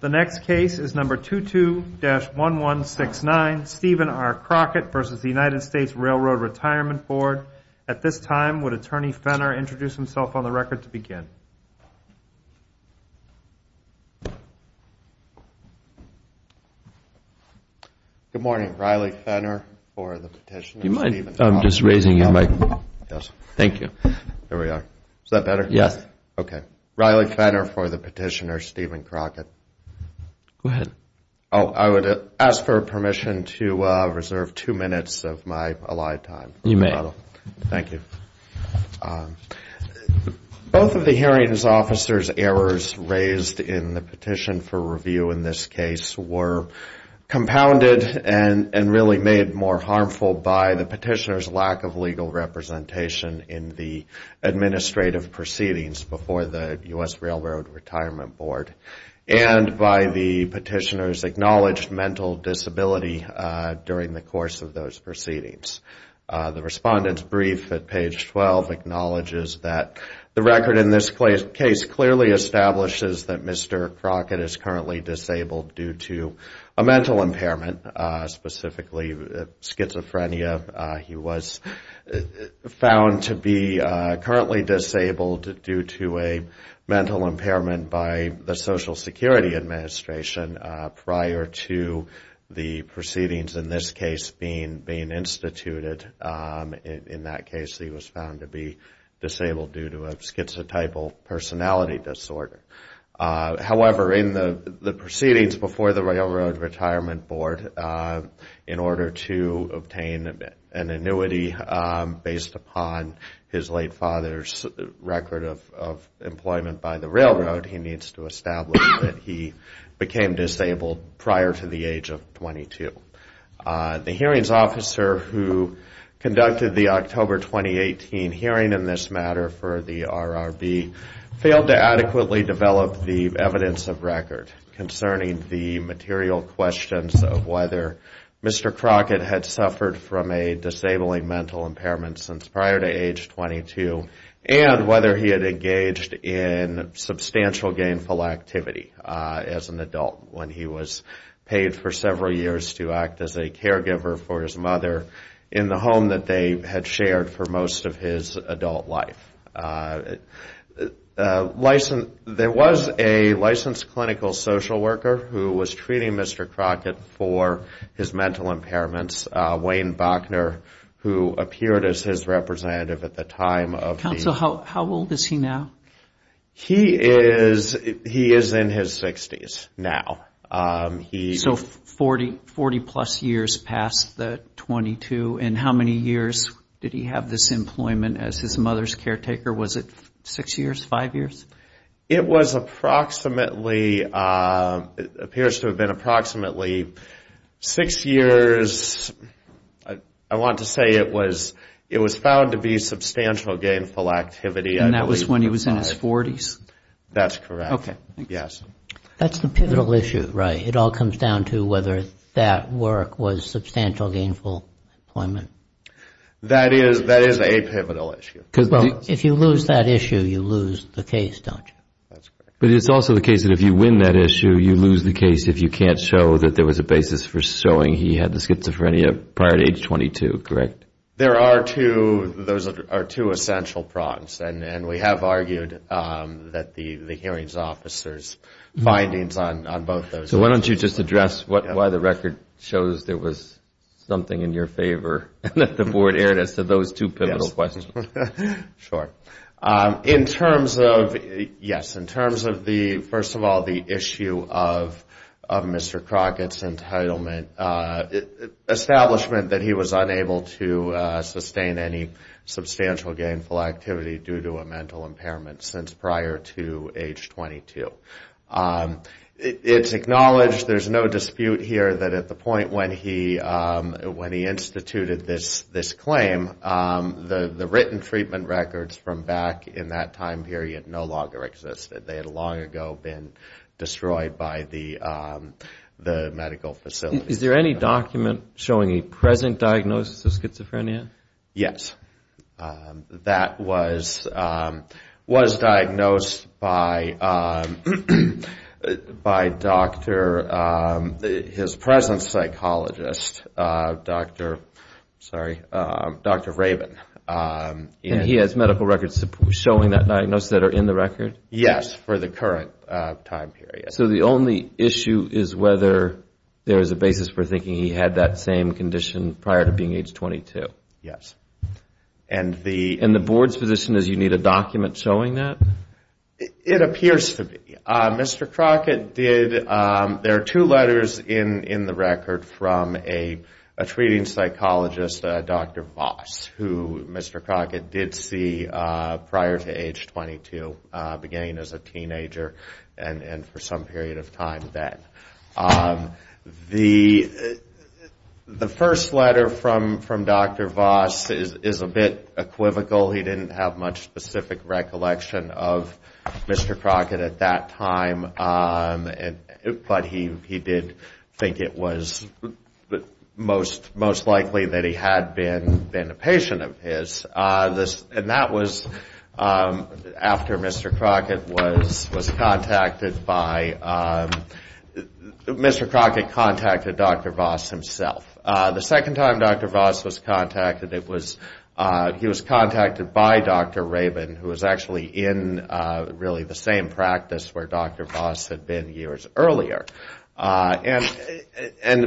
The next case is number 22-1169, Stephen R. Crockett v. U.S. Railroad Retirement Board. At this time, would Attorney Fenner introduce himself on the record to begin? Good morning. Riley Fenner for the petition. You mind just raising your mic? Yes. Thank you. There we are. Is that better? Yes. Okay. Riley Fenner for the petitioner, Stephen Crockett. Go ahead. Oh, I would ask for permission to reserve two minutes of my allotted time. You may. Thank you. Both of the hearing officer's errors raised in the petition for review in this case were compounded and really made more harmful by the petitioner's lack of legal representation in the administrative proceedings before the U.S. Railroad Retirement Board and by the petitioner's acknowledged mental disability during the course of those proceedings. The respondent's brief at page 12 acknowledges that the record in this case clearly establishes that Mr. Crockett is currently disabled due to a mental impairment, specifically schizophrenia. He was found to be currently disabled due to a mental impairment by the Social Security Administration prior to the proceedings in this case being instituted. In that case, he was found to be disabled due to a schizotypal personality disorder. However, in the proceedings before the Railroad Retirement Board, in order to obtain an annuity based upon his late father's record of employment by the railroad, he needs to establish that he became disabled prior to the age of 22. The hearings officer who conducted the October 2018 hearing in this matter for the RRB failed to adequately develop the evidence of record concerning the material questions of whether Mr. Crockett had suffered from a disabling mental impairment since prior to age 22 and whether he had engaged in substantial gainful activity as an adult when he was paid for several years to act as a caregiver for his mother in the home that they had shared for most of his adult life. There was a licensed clinical social worker who was treating Mr. Crockett for his mental impairments, Wayne Bochner, who appeared as his representative at the time. Counsel, how old is he now? He is in his 60s now. So 40-plus years past the 22, and how many years did he have this employment as his mother's caretaker? Was it six years, five years? It was approximately, it appears to have been approximately six years. I want to say it was found to be substantial gainful activity. And that was when he was in his 40s? That's correct, yes. That's the pivotal issue, right? It all comes down to whether that work was substantial gainful employment. That is a pivotal issue. Well, if you lose that issue, you lose the case, don't you? But it's also the case that if you win that issue, you lose the case if you can't show that there was a basis for showing he had the schizophrenia prior to age 22, correct? There are two, those are two essential problems, and we have argued that the hearings officer's findings on both those issues. So why don't you just address why the record shows there was something in your favor that the board aired as to those two pivotal questions? Sure. In terms of, yes, in terms of the, first of all, the issue of Mr. Crockett's entitlement, establishment that he was unable to sustain any substantial gainful activity due to a mental impairment since prior to age 22. It's acknowledged, there's no dispute here that at the point when he instituted this claim, the written treatment records from back in that time period no longer existed. They had long ago been destroyed by the medical facility. Is there any document showing a present diagnosis of schizophrenia? Yes. That was diagnosed by Dr., his present psychologist, Dr., sorry, Dr. Rabin. And he has medical records showing that diagnosis that are in the record? Yes, for the current time period. So the only issue is whether there is a basis for thinking he had that same condition prior to being age 22? Yes. And the board's position is you need a document showing that? It appears to be. Mr. Crockett did, there are two letters in the record from a treating psychologist, Dr. Voss, who Mr. Crockett did see prior to age 22, beginning as a teenager and for some period of time then. The first letter from Dr. Voss is a bit equivocal. He didn't have much specific recollection of Mr. Crockett at that time, but he did think it was most likely that he had been a patient of his. And that was after Mr. Crockett was contacted by, Mr. Crockett contacted Dr. Voss himself. The second time Dr. Voss was contacted, he was contacted by Dr. Rabin, who was actually in really the same practice where Dr. Voss had been years earlier. And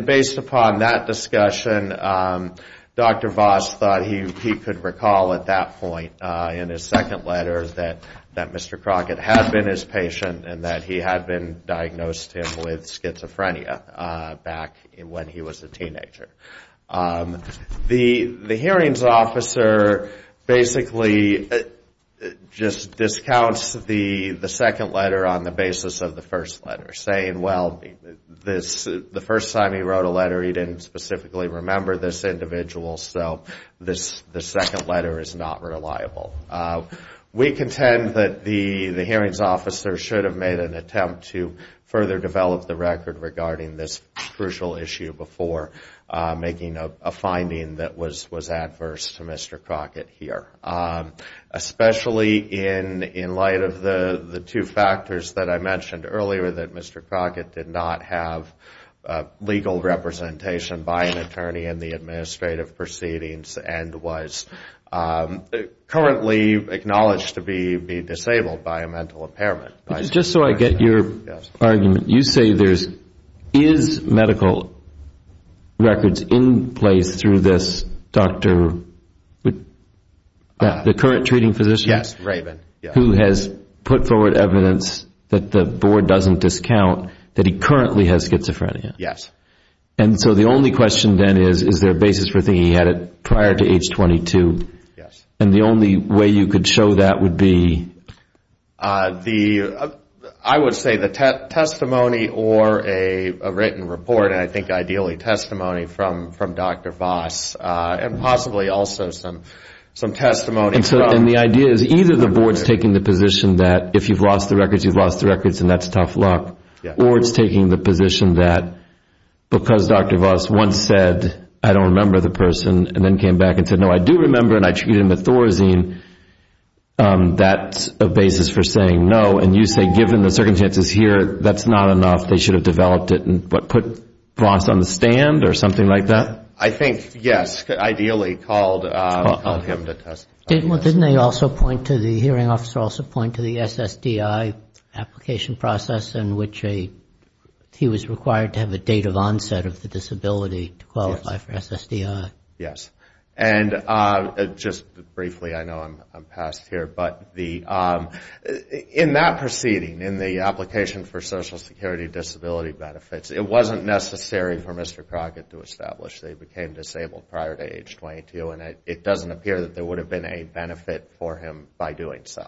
based upon that discussion, Dr. Voss thought he could recall at that point in his second letter that Mr. Crockett had been his patient and that he had been diagnosed with schizophrenia back when he was a teenager. The hearings officer basically just discounts the second letter on the basis of the first letter, saying, well, the first time he wrote a letter, he didn't specifically remember this individual, so the second letter is not reliable. We contend that the hearings officer should have made an attempt to further develop the record regarding this crucial issue before making a finding that was adverse to Mr. Crockett here, especially in light of the two factors that I mentioned earlier, that Mr. Crockett did not have legal representation by an attorney in the administrative proceedings and was currently acknowledged to be disabled by a mental impairment. Just so I get your argument, you say there is medical records in place through this Dr. The current treating physician? Yes, Rabin. Who has put forward evidence that the board doesn't discount that he currently has schizophrenia. Yes. And so the only question then is, is there a basis for thinking he had it prior to age 22? Yes. And the only way you could show that would be? I would say the testimony or a written report, and I think ideally testimony from Dr. Voss, and possibly also some testimony. And the idea is either the board is taking the position that if you've lost the records, you've lost the records and that's tough luck, or it's taking the position that because Dr. Voss once said I don't remember the person and then came back and said, no, I do remember and I treated him with Thorazine, that's a basis for saying no. And you say given the circumstances here, that's not enough. They should have developed it and put Voss on the stand or something like that? I think, yes, ideally called him to testify. Didn't they also point to the hearing officer also point to the SSDI application process in which he was required to have a date of onset of the disability to qualify for SSDI? Yes. And just briefly, I know I'm past here, but in that proceeding, in the application for Social Security disability benefits, it wasn't necessary for Mr. Crockett to establish they became disabled prior to age 22, and it doesn't appear that there would have been a benefit for him by doing so.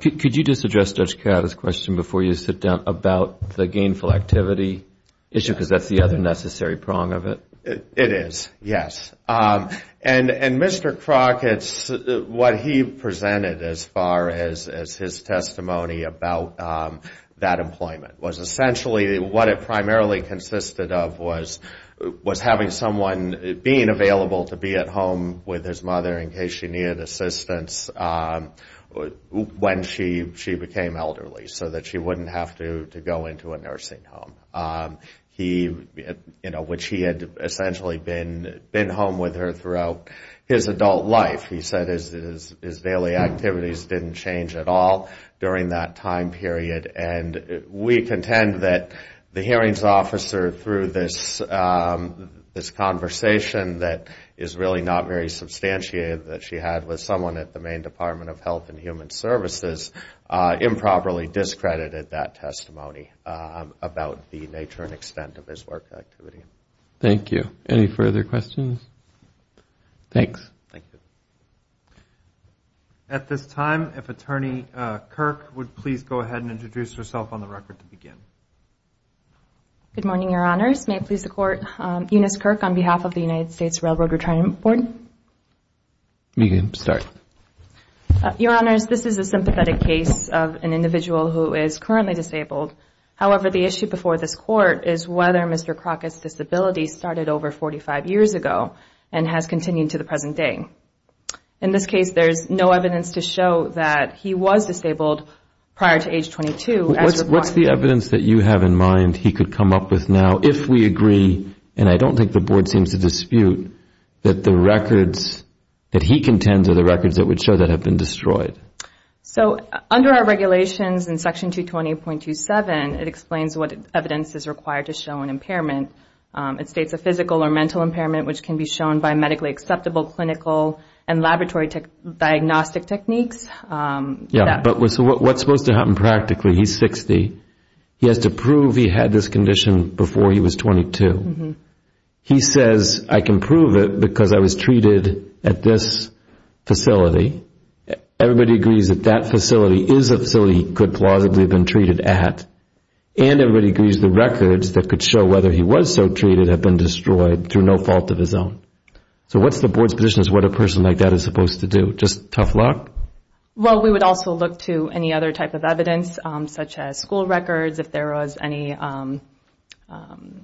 Could you just address Judge Kaddas' question before you sit down about the gainful activity issue, because that's the other necessary prong of it? It is, yes. And Mr. Crockett, what he presented as far as his testimony about that employment, was essentially what it primarily consisted of was having someone being available to be at home with his mother in case she needed assistance when she became elderly so that she wouldn't have to go into a nursing home. He, you know, which he had essentially been home with her throughout his adult life. He said his daily activities didn't change at all during that time period. And we contend that the hearings officer, through this conversation that is really not very substantiated that she had with someone at the Maine Department of Health and Human Services, improperly discredited that testimony about the nature and extent of his work activity. Thank you. Any further questions? Thanks. Thank you. At this time, if Attorney Kirk would please go ahead and introduce herself on the record to begin. Good morning, Your Honors. May I please support Eunice Kirk on behalf of the United States Railroad Retirement Board? You can start. Your Honors, this is a sympathetic case of an individual who is currently disabled. However, the issue before this Court is whether Mr. Crockett's disability started over 45 years ago and has continued to the present day. In this case, there is no evidence to show that he was disabled prior to age 22. What's the evidence that you have in mind he could come up with now if we agree, and I don't think the Board seems to dispute, that the records that he contends are the records that would show that have been destroyed? So under our regulations in Section 220.27, it explains what evidence is required to show an impairment. It states a physical or mental impairment which can be shown by medically acceptable clinical and laboratory diagnostic techniques. Yeah, but what's supposed to happen practically? He's 60. He has to prove he had this condition before he was 22. He says, I can prove it because I was treated at this facility. Everybody agrees that that facility is a facility he could plausibly have been treated at, and everybody agrees the records that could show whether he was so treated have been destroyed through no fault of his own. So what's the Board's position as to what a person like that is supposed to do? Just tough luck? Well, we would also look to any other type of evidence, such as school records, if there was any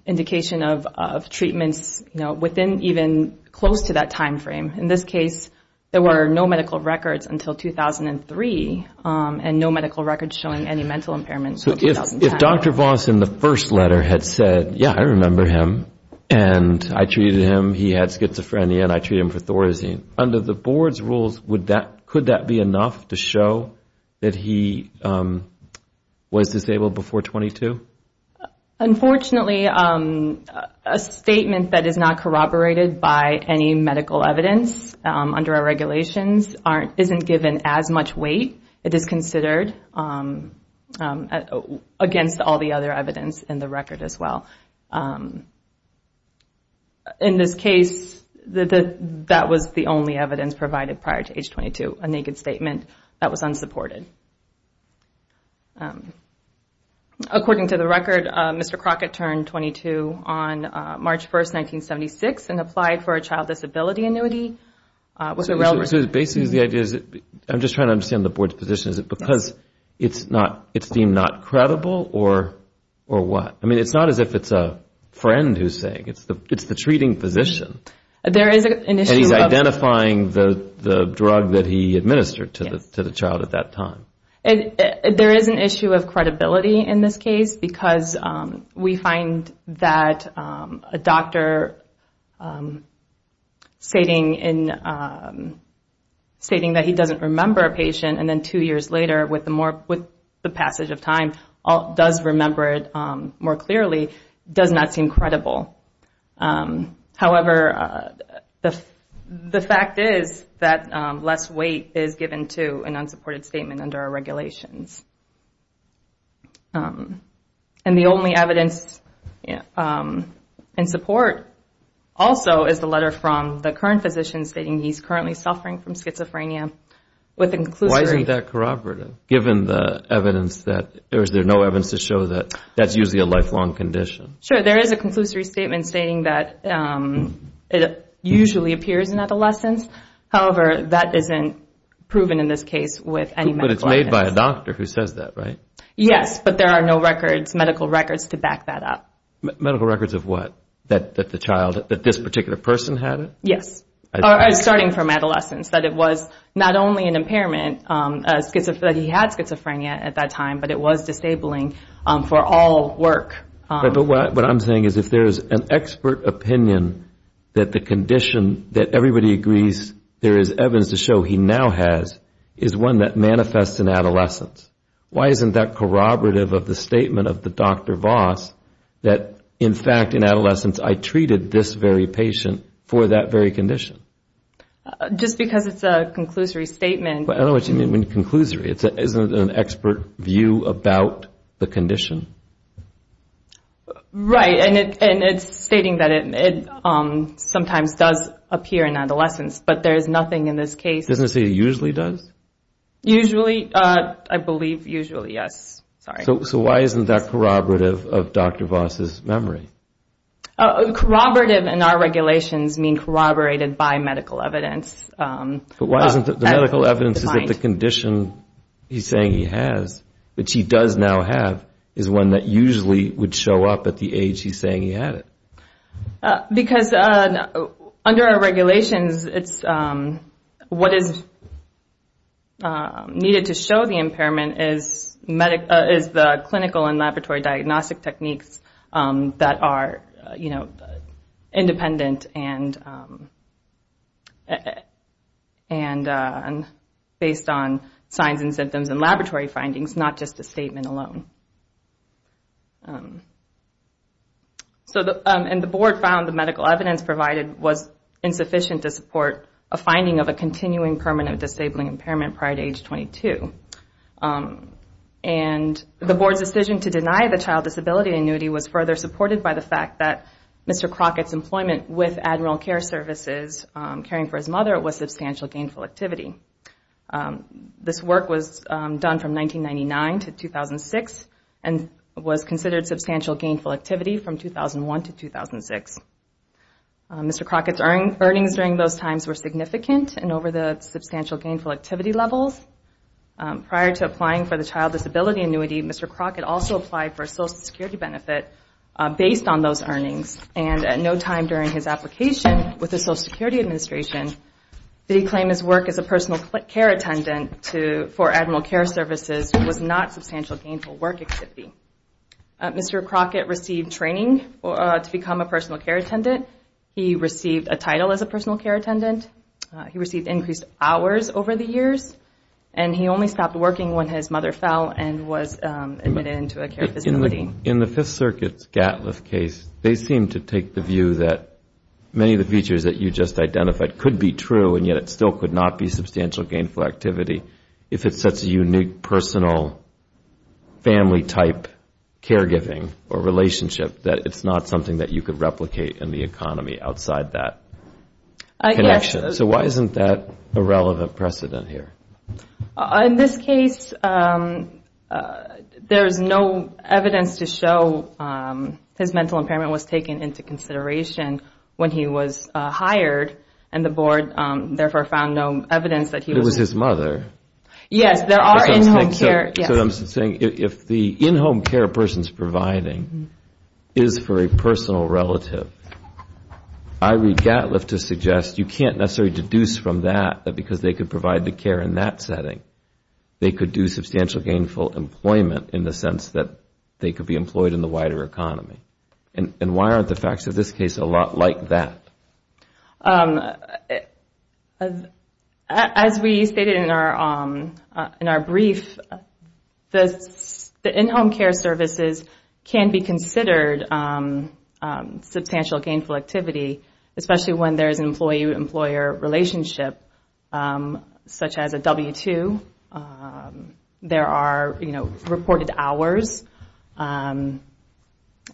indication of treatments within even close to that time frame. In this case, there were no medical records until 2003, and no medical records showing any mental impairments until 2010. So if Dr. Voss in the first letter had said, yeah, I remember him, and I treated him, he had schizophrenia, and I treated him for Thorazine, under the Board's rules, could that be enough to show that he was disabled before 22? Unfortunately, a statement that is not corroborated by any medical evidence under our regulations isn't given as much weight. It is considered against all the other evidence in the record as well. In this case, that was the only evidence provided prior to age 22, a naked statement that was unsupported. According to the record, Mr. Crockett turned 22 on March 1, 1976, and applied for a child disability annuity. So basically the idea is, I'm just trying to understand the Board's position, is it because it's deemed not credible, or what? I mean, it's not as if it's a friend who's saying it. It's the treating physician. And he's identifying the drug that he administered to the child at that time. There is an issue of credibility in this case, because we find that a doctor stating that he doesn't remember a patient, and then two years later, with the passage of time, does remember it more clearly, does not seem credible. However, the fact is that less weight is given to an unsupported statement under our regulations. And the only evidence in support also is the letter from the current physician stating he's currently suffering from schizophrenia. Why isn't that corroborated, given the evidence that there's no evidence to show that that's usually a lifelong condition? Sure, there is a conclusory statement stating that it usually appears in adolescence. However, that isn't proven in this case with any medical evidence. But it's made by a doctor who says that, right? Yes, but there are no medical records to back that up. Medical records of what? That this particular person had it? Yes, starting from adolescence, that it was not only an impairment, that he had schizophrenia at that time, but it was disabling for all work. But what I'm saying is if there's an expert opinion that the condition that everybody agrees there is evidence to show he now has is one that manifests in adolescence, why isn't that corroborative of the statement of the Dr. Voss that, in fact, in adolescence, I treated this very patient for that very condition? Just because it's a conclusory statement. I don't know what you mean by conclusory. Isn't it an expert view about the condition? Right, and it's stating that it sometimes does appear in adolescence, but there's nothing in this case. Doesn't it say it usually does? Usually, I believe usually, yes. So why isn't that corroborative of Dr. Voss' memory? Corroborative in our regulations means corroborated by medical evidence. But why isn't the medical evidence that the condition he's saying he has, which he does now have, is one that usually would show up at the age he's saying he had it? Because under our regulations, what is needed to show the impairment is the clinical and laboratory diagnostic techniques that are independent and based on signs and symptoms and laboratory findings, not just the statement alone. And the board found the medical evidence provided was insufficient to support a finding of a continuing permanent disabling impairment prior to age 22. And the board's decision to deny the child disability annuity was further supported by the fact that Mr. Crockett's employment with Admiral Care Services, caring for his mother, was substantial gainful activity. This work was done from 1999 to 2006 and was considered substantial gainful activity from 2001 to 2006. Mr. Crockett's earnings during those times were significant and over the substantial gainful activity levels. Prior to applying for the child disability annuity, Mr. Crockett also applied for a Social Security benefit based on those earnings. And at no time during his application with the Social Security Administration did he claim his work as a personal care attendant for Admiral Care Services was not substantial gainful work activity. Mr. Crockett received training to become a personal care attendant. He received a title as a personal care attendant. He received increased hours over the years. And he only stopped working when his mother fell and was admitted into a care facility. In the Fifth Circuit's Gatliff case, they seem to take the view that many of the features that you just identified could be true and yet it still could not be substantial gainful activity if it's such a unique personal family type caregiving or relationship that it's not something that you could replicate in the economy outside that connection. So why isn't that a relevant precedent here? In this case, there is no evidence to show his mental impairment was taken into consideration when he was hired and the board therefore found no evidence that he was... Yes, there are in-home care... So I'm saying if the in-home care a person is providing is for a personal relative, I read Gatliff to suggest you can't necessarily deduce from that that because they could provide the care in that setting, they could do substantial gainful employment in the sense that they could be employed in the wider economy. And why aren't the facts of this case a lot like that? As we stated in our brief, the in-home care services can be considered substantial gainful activity, especially when there is an employee-employer relationship such as a W-2. There are reported hours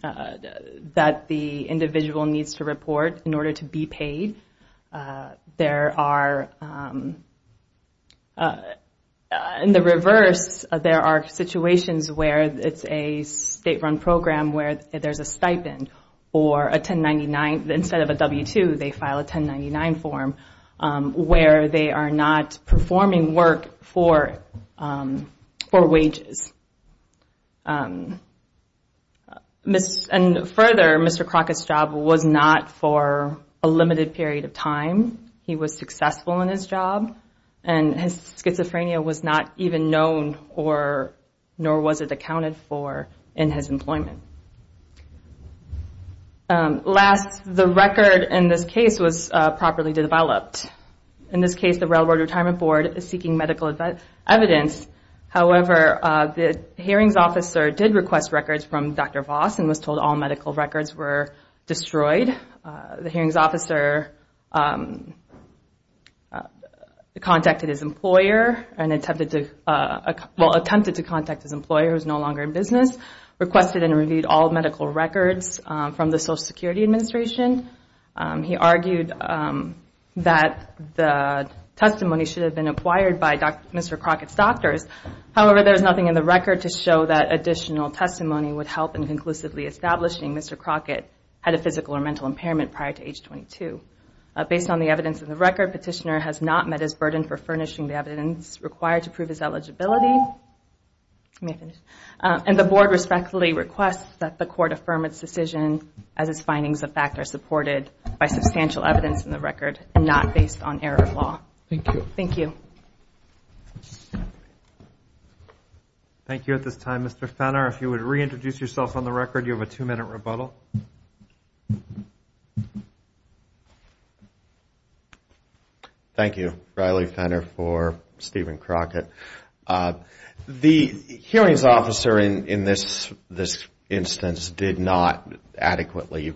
that the individual needs to report in order to be paid. There are... In the reverse, there are situations where it's a state-run program where there's a stipend or a 1099, instead of a W-2, they file a 1099 form where they are not performing work for wages. And further, Mr. Crockett's job was not for a limited period of time. He was successful in his job, and his schizophrenia was not even known nor was it accounted for in his employment. Last, the record in this case was properly developed. In this case, the Railroad Retirement Board is seeking medical evidence. However, the hearings officer did request records from Dr. Voss and was told all medical records were destroyed. The hearings officer contacted his employer and attempted to contact his employer who is no longer in business, requested and reviewed all medical records from the Social Security Administration. He argued that the testimony should have been acquired by Mr. Crockett's doctors. However, there is nothing in the record to show that additional testimony would help in conclusively establishing Mr. Crockett had a physical or mental impairment prior to age 22. Based on the evidence in the record, Petitioner has not met his burden for furnishing the evidence required to prove his eligibility. And the Board respectfully requests that the Court affirm its decision as its findings of fact are supported by substantial evidence in the record and not based on error of law. Thank you. Thank you at this time. Mr. Fenner, if you would reintroduce yourself on the record, you have a two-minute rebuttal. Thank you. Riley Fenner for Stephen Crockett. The hearings officer in this instance did not adequately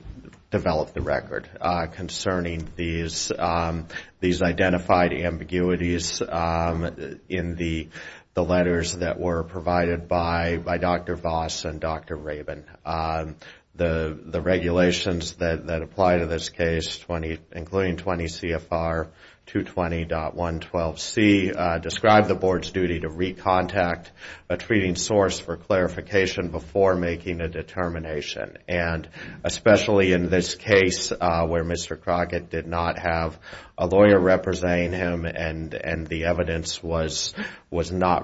develop the record concerning these identified ambiguities in the letters that were provided by Dr. Voss and Dr. Rabin. The regulations that apply to this case, including 20 CFR 220.112C, describe the Board's duty to recontact a treating source for clarification before making a determination. Especially in this case where Mr. Crockett did not have a lawyer representing him and there was no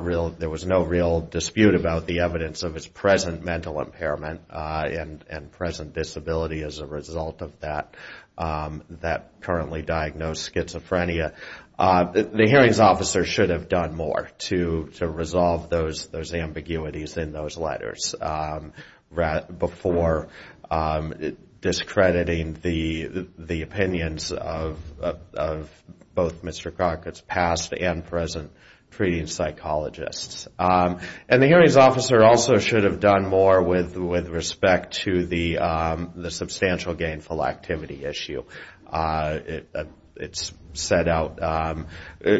real dispute about the evidence of his present mental impairment and present disability as a result of that currently diagnosed schizophrenia. The hearings officer should have done more to resolve those ambiguities in those letters before discrediting the opinions of both Mr. Crockett's past and present treating psychologists. And the hearings officer also should have done more with respect to the substantial gainful activity issue. It is set out.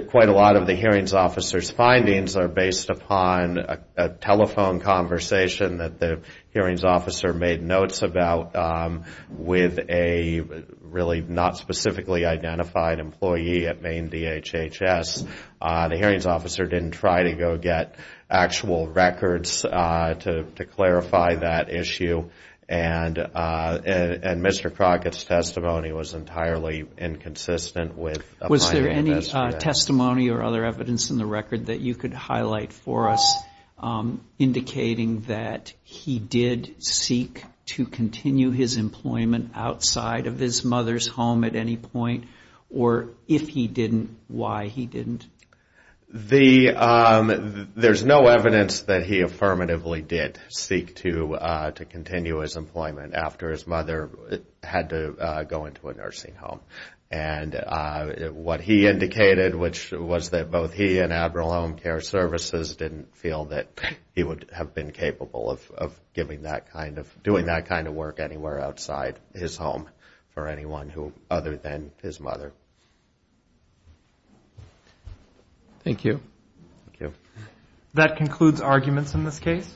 Quite a lot of the hearings officer's findings are based upon a telephone conversation that the hearings officer made notes about with a really not specifically identified employee at Maine DHHS. The hearings officer did not try to go get actual records to clarify that issue. And Mr. Crockett's testimony was entirely inconsistent with applying to this case. Was there any testimony or other evidence in the record that you could highlight for us indicating that he did seek to continue his employment outside of his mother's home at any point? Or if he didn't, why he didn't? There's no evidence that he affirmatively did seek to continue his employment after his mother had to go into a nursing home. And what he indicated, which was that both he and Admiral Home Care Services didn't feel that he would have been capable of doing that kind of work anywhere outside his home for anyone other than his mother. Thank you. That concludes arguments in this case.